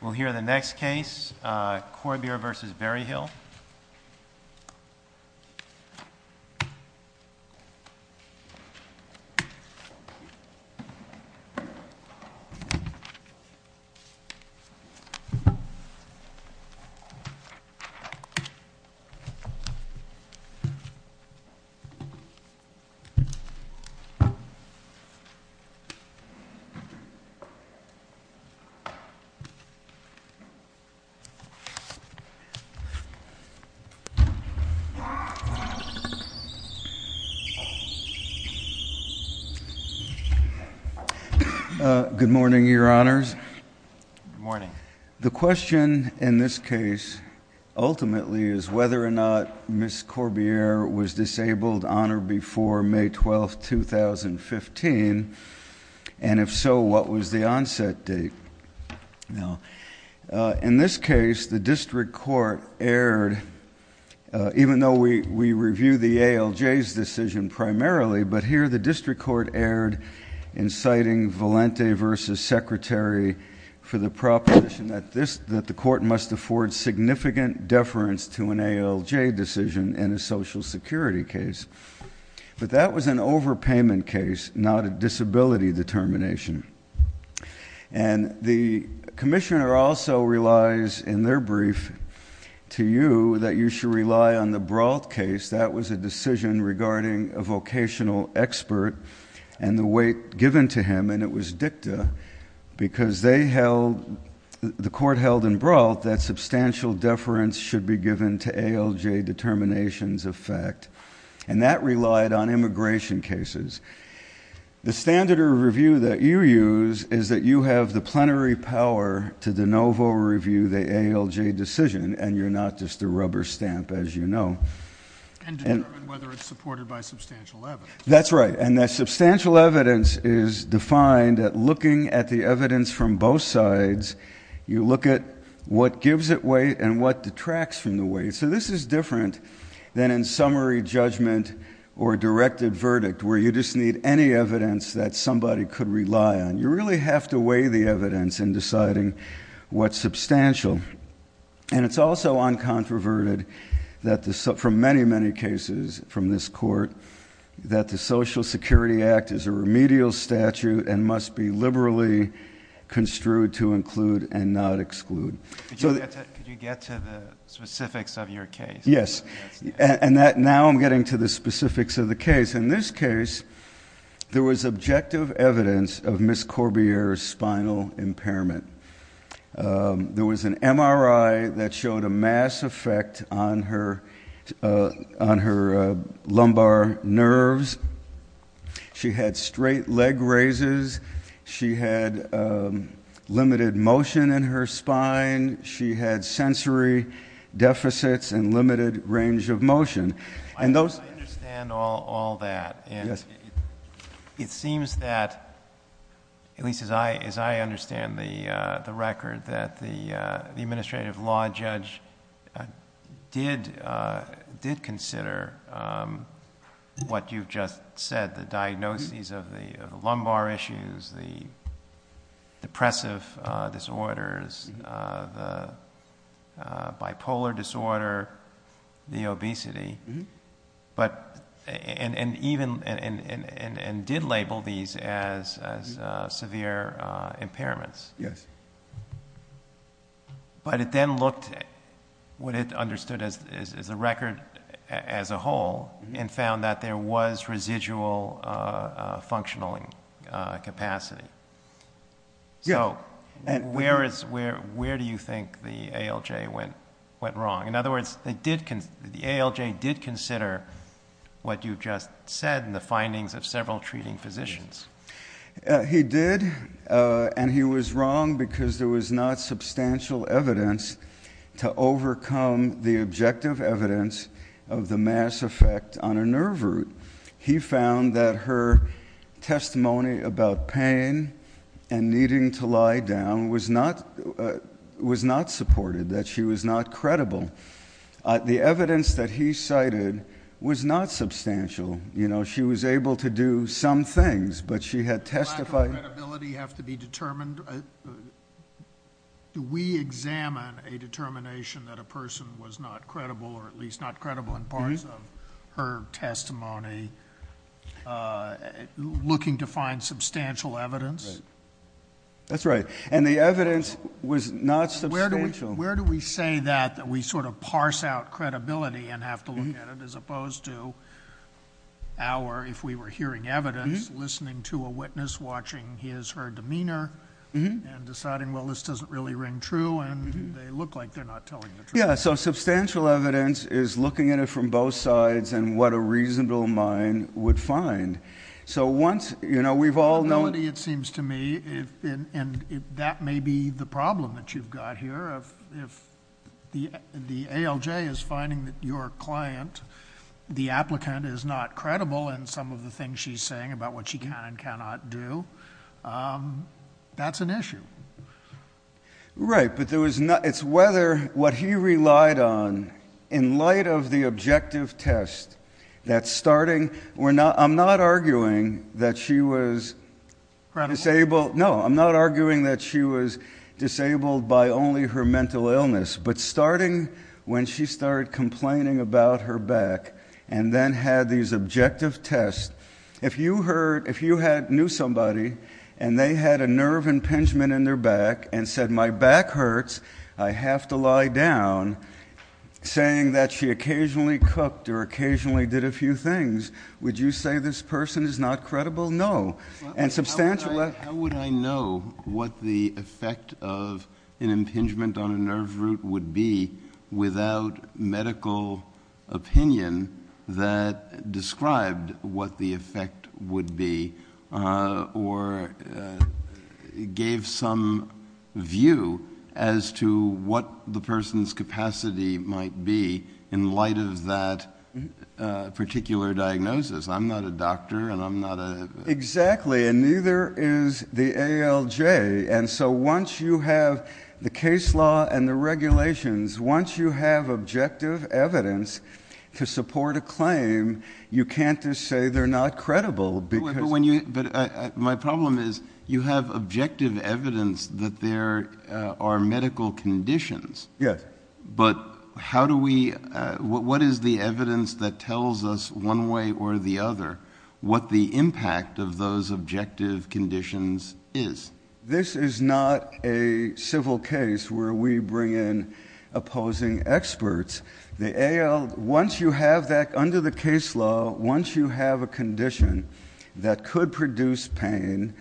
We'll hear the next case, Corbiere v. Berryhill. The question in this case ultimately is whether or not Ms. Corbiere was disabled on or before May 12, 2015, and if so, what was the onset date? Now, in this case, the district court erred, even though we review the ALJ's decision primarily, but here the district court erred in citing Valente v. Secretary for the proposition that the court must afford significant deference to an ALJ decision in a Social Security case. But that was an overpayment case, not a disability determination. And the commissioner also relies in their brief to you that you should rely on the Brault case. That was a decision regarding a vocational expert and the weight given to him, and it was dicta, because the court held in Brault that substantial deference should be given to ALJ determinations of fact. And that relied on immigration cases. The standard of review that you use is that you have the plenary power to de novo review the ALJ decision, and you're not just a rubber stamp, as you know. And determine whether it's supported by substantial evidence. That's right. And that substantial evidence is defined at looking at the evidence from both sides. You look at what gives it weight and what detracts from the weight. So this is different than in summary judgment or directed verdict, where you just need any evidence that somebody could rely on. You really have to weigh the evidence in deciding what's substantial. And it's also uncontroverted from many, many cases from this court, that the Social Security Act is a remedial statute and must be liberally construed to include and not exclude. Could you get to the specifics of your case? Yes. And now I'm getting to the specifics of the case. In this case, there was objective evidence of Ms. Corbiere's spinal impairment. There was an MRI that showed a mass effect on her lumbar nerves. She had straight leg raises. She had limited motion in her spine. She had sensory deficits and limited range of motion. I understand all that. And it seems that, at least as I understand the record, that the administrative law judge did consider what you've just said, the diagnoses of the lumbar issues, the depressive disorders, the bipolar disorder, the obesity, and did label these as severe impairments. Yes. But it then looked at what it understood as the record as a whole and found that there was residual functional capacity. So where do you think the ALJ went wrong? In other words, the ALJ did consider what you've just said and the findings of several treating physicians. He did, and he was wrong because there was not substantial evidence to overcome the objective evidence of the mass effect on a nerve root. He found that her testimony about pain and needing to lie down was not supported, that she was not credible. The evidence that he cited was not substantial. You know, she was able to do some things, but she had testified... Do we examine a determination that a person was not credible or at least not credible in parts of her testimony, looking to find substantial evidence? That's right. And the evidence was not substantial. Where do we say that we sort of parse out credibility and have to look at it as opposed to our, if we were hearing evidence, listening to a witness watching his or her demeanor and deciding, well, this doesn't really ring true, and they look like they're not telling the truth. Yeah, so substantial evidence is looking at it from both sides and what a reasonable mind would find. So once, you know, we've all known... Credibility, it seems to me, and that may be the problem that you've got here. If the ALJ is finding that your client, the applicant, is not credible in some of the things she's saying about what she can and cannot do, that's an issue. Right, but it's whether what he relied on in light of the objective test that starting... I'm not arguing that she was... Credible? No, I'm not arguing that she was disabled by only her mental illness, but starting when she started complaining about her back and then had these objective tests, if you knew somebody and they had a nerve impingement in their back and said, my back hurts, I have to lie down, saying that she occasionally cooked or occasionally did a few things, would you say this person is not credible? No. How would I know what the effect of an impingement on a nerve root would be without medical opinion that described what the effect would be or gave some view as to what the person's capacity might be in light of that particular diagnosis? I'm not a doctor and I'm not a... Exactly, and neither is the ALJ, and so once you have the case law and the regulations, once you have objective evidence to support a claim, you can't just say they're not credible because... But my problem is you have objective evidence that there are medical conditions. Yes. But how do we... What is the evidence that tells us one way or the other what the impact of those objective conditions is? This is not a civil case where we bring in opposing experts. The AL, once you have that under the case law, once you have a condition that could produce pain,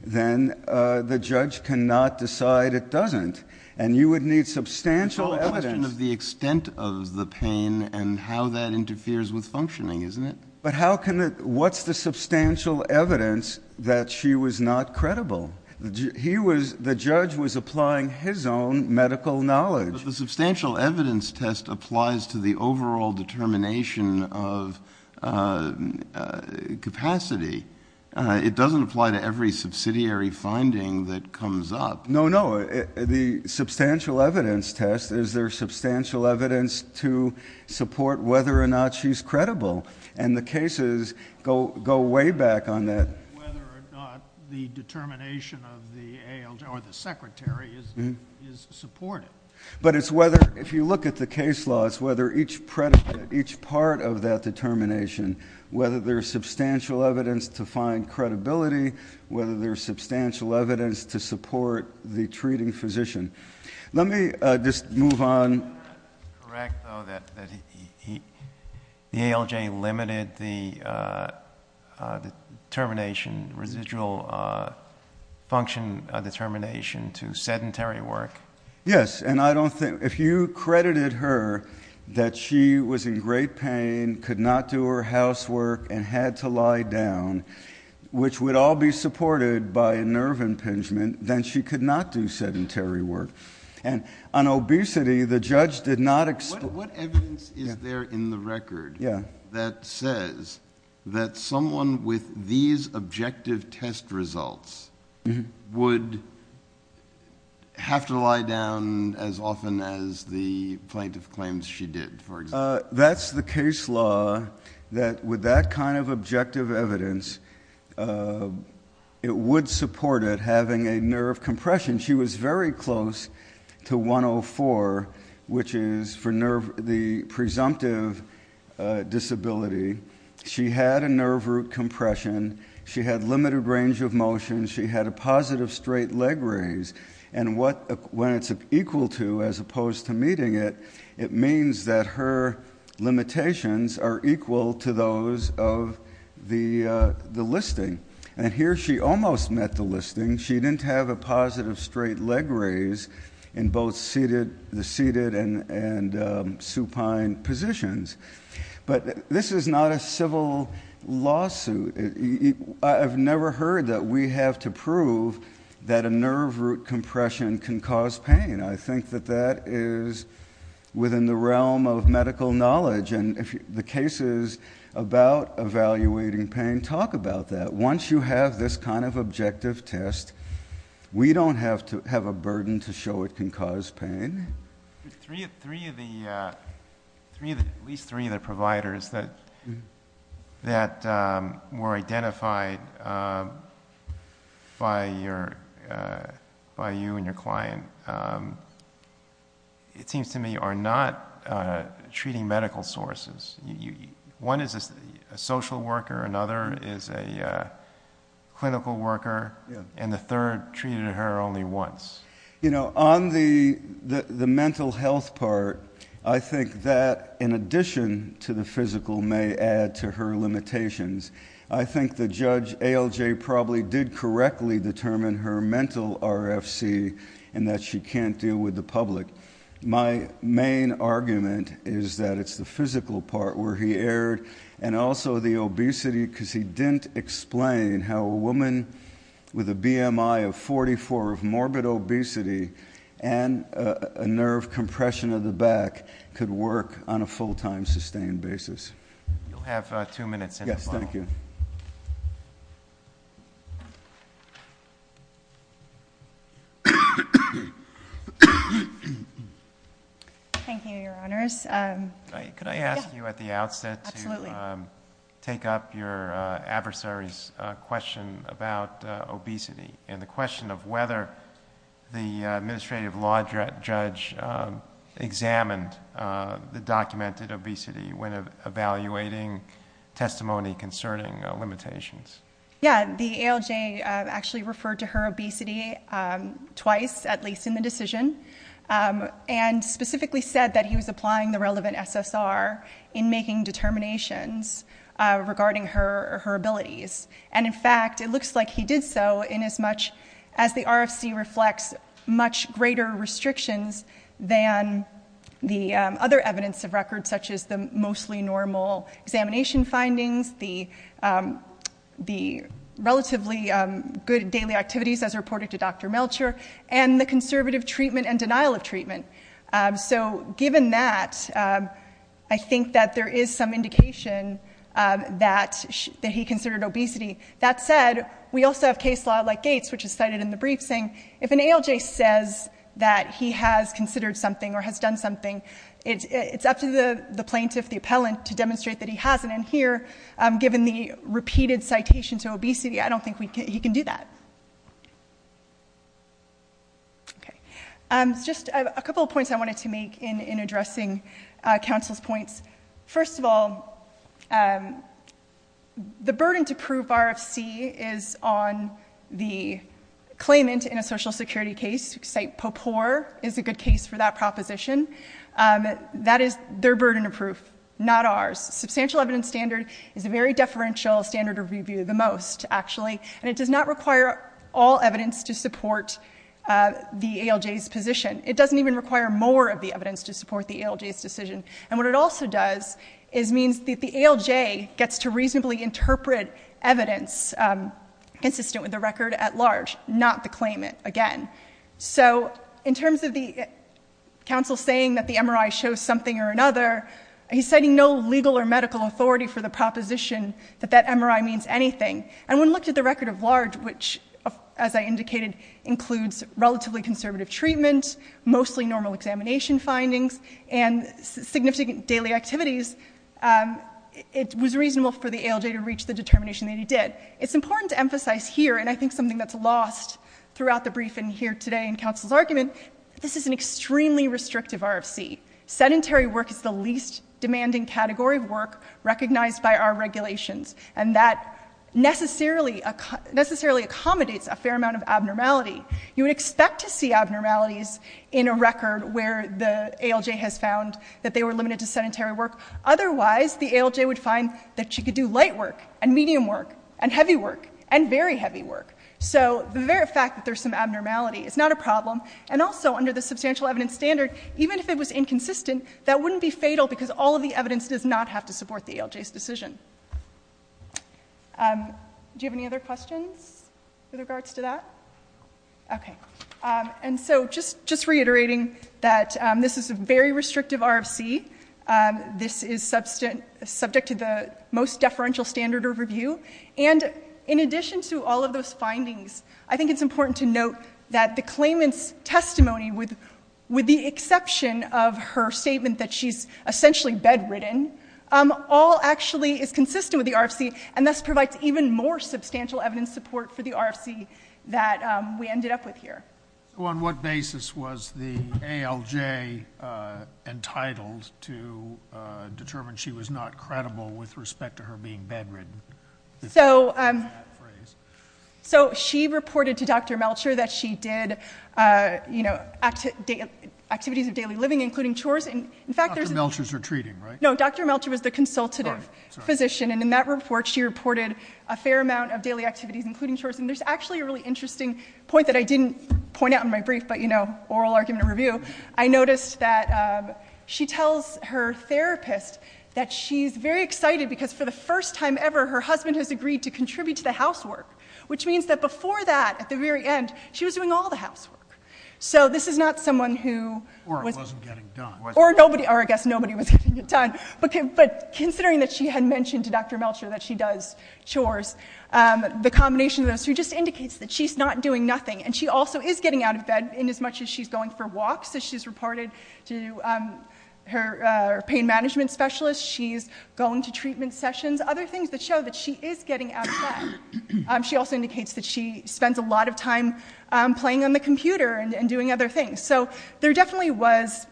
then the judge cannot decide it doesn't, and you would need substantial evidence. It's all a question of the extent of the pain and how that interferes with functioning, isn't it? But what's the substantial evidence that she was not credible? The judge was applying his own medical knowledge. But the substantial evidence test applies to the overall determination of capacity. It doesn't apply to every subsidiary finding that comes up. No, no. The substantial evidence test, is there substantial evidence to support whether or not she's credible? And the cases go way back on that. Whether or not the determination of the ALJ or the secretary is supportive. But it's whether, if you look at the case law, it's whether each part of that determination, whether there's substantial evidence to find credibility, whether there's substantial evidence to support the treating physician. Let me just move on. Is it correct, though, that the ALJ limited the determination, residual function determination to sedentary work? Yes, and I don't think, if you credited her that she was in great pain, could not do her housework, and had to lie down, which would all be supported by a nerve impingement, then she could not do sedentary work. And on obesity, the judge did not explain. What evidence is there in the record that says that someone with these objective test results would have to lie down as often as the plaintiff claims she did, for example? That's the case law that, with that kind of objective evidence, it would support it, having a nerve compression. She was very close to 104, which is for the presumptive disability. She had a nerve root compression. She had limited range of motion. She had a positive straight leg raise. And when it's equal to, as opposed to meeting it, it means that her limitations are equal to those of the listing. And here she almost met the listing. She didn't have a positive straight leg raise in both the seated and supine positions. But this is not a civil lawsuit. I've never heard that we have to prove that a nerve root compression can cause pain. I think that that is within the realm of medical knowledge. And the cases about evaluating pain talk about that. Once you have this kind of objective test, we don't have to have a burden to show it can cause pain. Three of the providers that were identified by you and your client, it seems to me, are not treating medical sources. One is a social worker, another is a clinical worker, and the third treated her only once. On the mental health part, I think that in addition to the physical may add to her limitations. I think the judge, ALJ, probably did correctly determine her mental RFC and that she can't deal with the public. My main argument is that it's the physical part where he erred and also the obesity because he didn't explain how a woman with a BMI of 44, morbid obesity, and a nerve compression of the back could work on a full-time sustained basis. You'll have two minutes. Yes, thank you. Thank you, Your Honors. Could I ask you at the outset to take up your adversary's question about obesity and the question of whether the administrative law judge examined the documented obesity when evaluating testimony concerning limitations. Yeah, the ALJ actually referred to her obesity twice, at least in the decision. And specifically said that he was applying the relevant SSR in making determinations regarding her abilities. And, in fact, it looks like he did so in as much as the RFC reflects much greater restrictions than the other evidence of record, such as the mostly normal examination findings, the relatively good daily activities as reported to Dr. Melcher, and the conservative treatment and denial of treatment. So given that, I think that there is some indication that he considered obesity. That said, we also have case law like Gates, which is cited in the brief, saying if an ALJ says that he has considered something or has done something, it's up to the plaintiff, the appellant, to demonstrate that he hasn't. And here, given the repeated citation to obesity, I don't think he can do that. Just a couple of points I wanted to make in addressing counsel's points. First of all, the burden to prove RFC is on the claimant in a Social Security case. Cite Popor is a good case for that proposition. That is their burden of proof, not ours. Substantial evidence standard is a very deferential standard of review, the most, actually. And it does not require all evidence to support the ALJ's position. It doesn't even require more of the evidence to support the ALJ's decision. And what it also does is means that the ALJ gets to reasonably interpret evidence consistent with the record at large, not the claimant, again. So in terms of the counsel saying that the MRI shows something or another, he's citing no legal or medical authority for the proposition that that MRI means anything. And when looked at the record of large, which, as I indicated, includes relatively conservative treatment, mostly normal examination findings, and significant daily activities, it was reasonable for the ALJ to reach the determination that he did. It's important to emphasize here, and I think something that's lost throughout the briefing here today in counsel's argument, this is an extremely restrictive RFC. Sedentary work is the least demanding category of work recognized by our regulations. And that necessarily accommodates a fair amount of abnormality. You would expect to see abnormalities in a record where the ALJ has found that they were limited to sedentary work. Otherwise, the ALJ would find that you could do light work and medium work and heavy work and very heavy work. So the very fact that there's some abnormality is not a problem. And also, under the substantial evidence standard, even if it was inconsistent, that wouldn't be fatal because all of the evidence does not have to support the ALJ's decision. Do you have any other questions with regards to that? Okay. And so just reiterating that this is a very restrictive RFC. This is subject to the most deferential standard of review. And in addition to all of those findings, I think it's important to note that the claimant's testimony, with the exception of her statement that she's essentially bedridden, all actually is consistent with the RFC and thus provides even more substantial evidence support for the RFC that we ended up with here. So on what basis was the ALJ entitled to determine she was not credible with respect to her being bedridden? So she reported to Dr. Melcher that she did activities of daily living, including chores. Dr. Melcher's retreating, right? No, Dr. Melcher was the consultative physician. And in that report, she reported a fair amount of daily activities, including chores. And there's actually a really interesting point that I didn't point out in my brief, but, you know, oral argument review. I noticed that she tells her therapist that she's very excited because for the first time ever, her husband has agreed to contribute to the housework, which means that before that, at the very end, she was doing all the housework. So this is not someone who was- Or wasn't getting done. Or I guess nobody was getting it done. But considering that she had mentioned to Dr. Melcher that she does chores, the combination of those two just indicates that she's not doing nothing. And she also is getting out of bed inasmuch as she's going for walks, as she's reported to her pain management specialist. She's going to treatment sessions, other things that show that she is getting out of bed. She also indicates that she spends a lot of time playing on the computer and doing other things. So there definitely was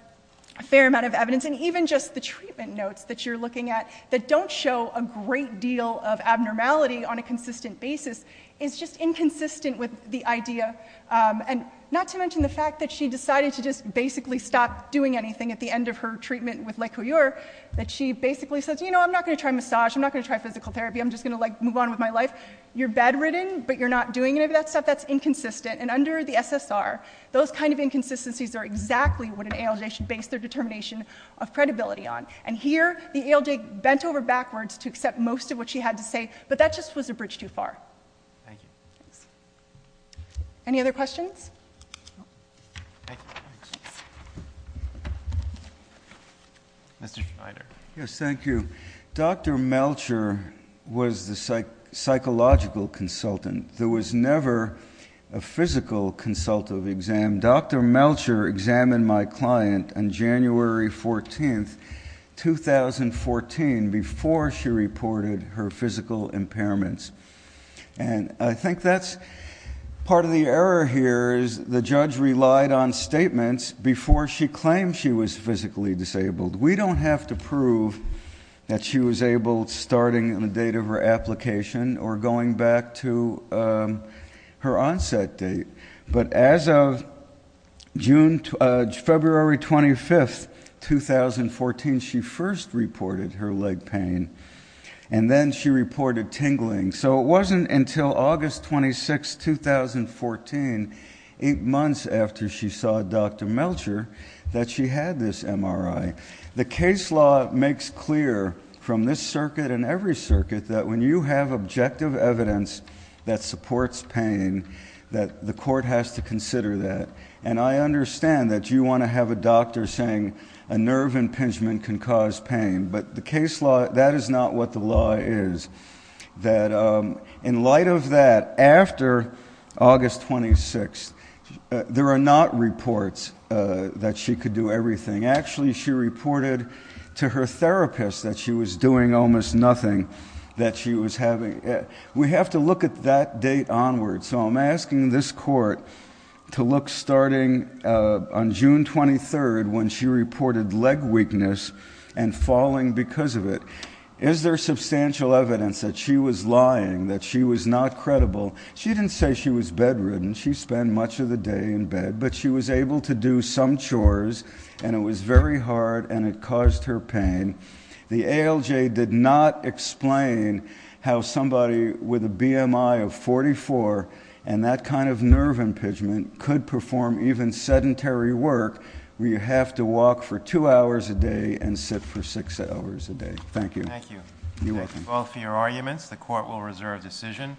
a fair amount of evidence. And even just the treatment notes that you're looking at, that don't show a great deal of abnormality on a consistent basis, is just inconsistent with the idea. And not to mention the fact that she decided to just basically stop doing anything at the end of her treatment with Lecour, that she basically says, you know, I'm not going to try massage. I'm not going to try physical therapy. I'm just going to move on with my life. You're bedridden, but you're not doing any of that stuff. That's inconsistent. And under the SSR, those kind of inconsistencies are exactly what an ALJ should base their determination of credibility on. And here, the ALJ bent over backwards to accept most of what she had to say, but that just was a bridge too far. Thank you. Thanks. Any other questions? No. Thank you. Mr. Schneider. Yes, thank you. Dr. Melcher was the psychological consultant. There was never a physical consultative exam. Dr. Melcher examined my client on January 14th, 2014, before she reported her physical impairments. And I think that's part of the error here is the judge relied on statements before she claimed she was physically disabled. We don't have to prove that she was able, starting on the date of her application or going back to her onset date. But as of February 25th, 2014, she first reported her leg pain, and then she reported tingling. So it wasn't until August 26th, 2014, eight months after she saw Dr. Melcher, that she had this MRI. The case law makes clear from this circuit and every circuit that when you have objective evidence that supports pain, that the court has to consider that. And I understand that you want to have a doctor saying a nerve impingement can cause pain. But the case law, that is not what the law is. In light of that, after August 26th, there are not reports that she could do everything. Actually, she reported to her therapist that she was doing almost nothing that she was having. We have to look at that date onward. So I'm asking this court to look, starting on June 23rd, when she reported leg weakness and falling because of it. Is there substantial evidence that she was lying, that she was not credible? She didn't say she was bedridden. She spent much of the day in bed. But she was able to do some chores, and it was very hard, and it caused her pain. The ALJ did not explain how somebody with a BMI of 44 and that kind of nerve impingement could perform even sedentary work where you have to walk for two hours a day and sit for six hours a day. Thank you. Thank you. You're welcome. Thank you both for your arguments. The court will reserve decision.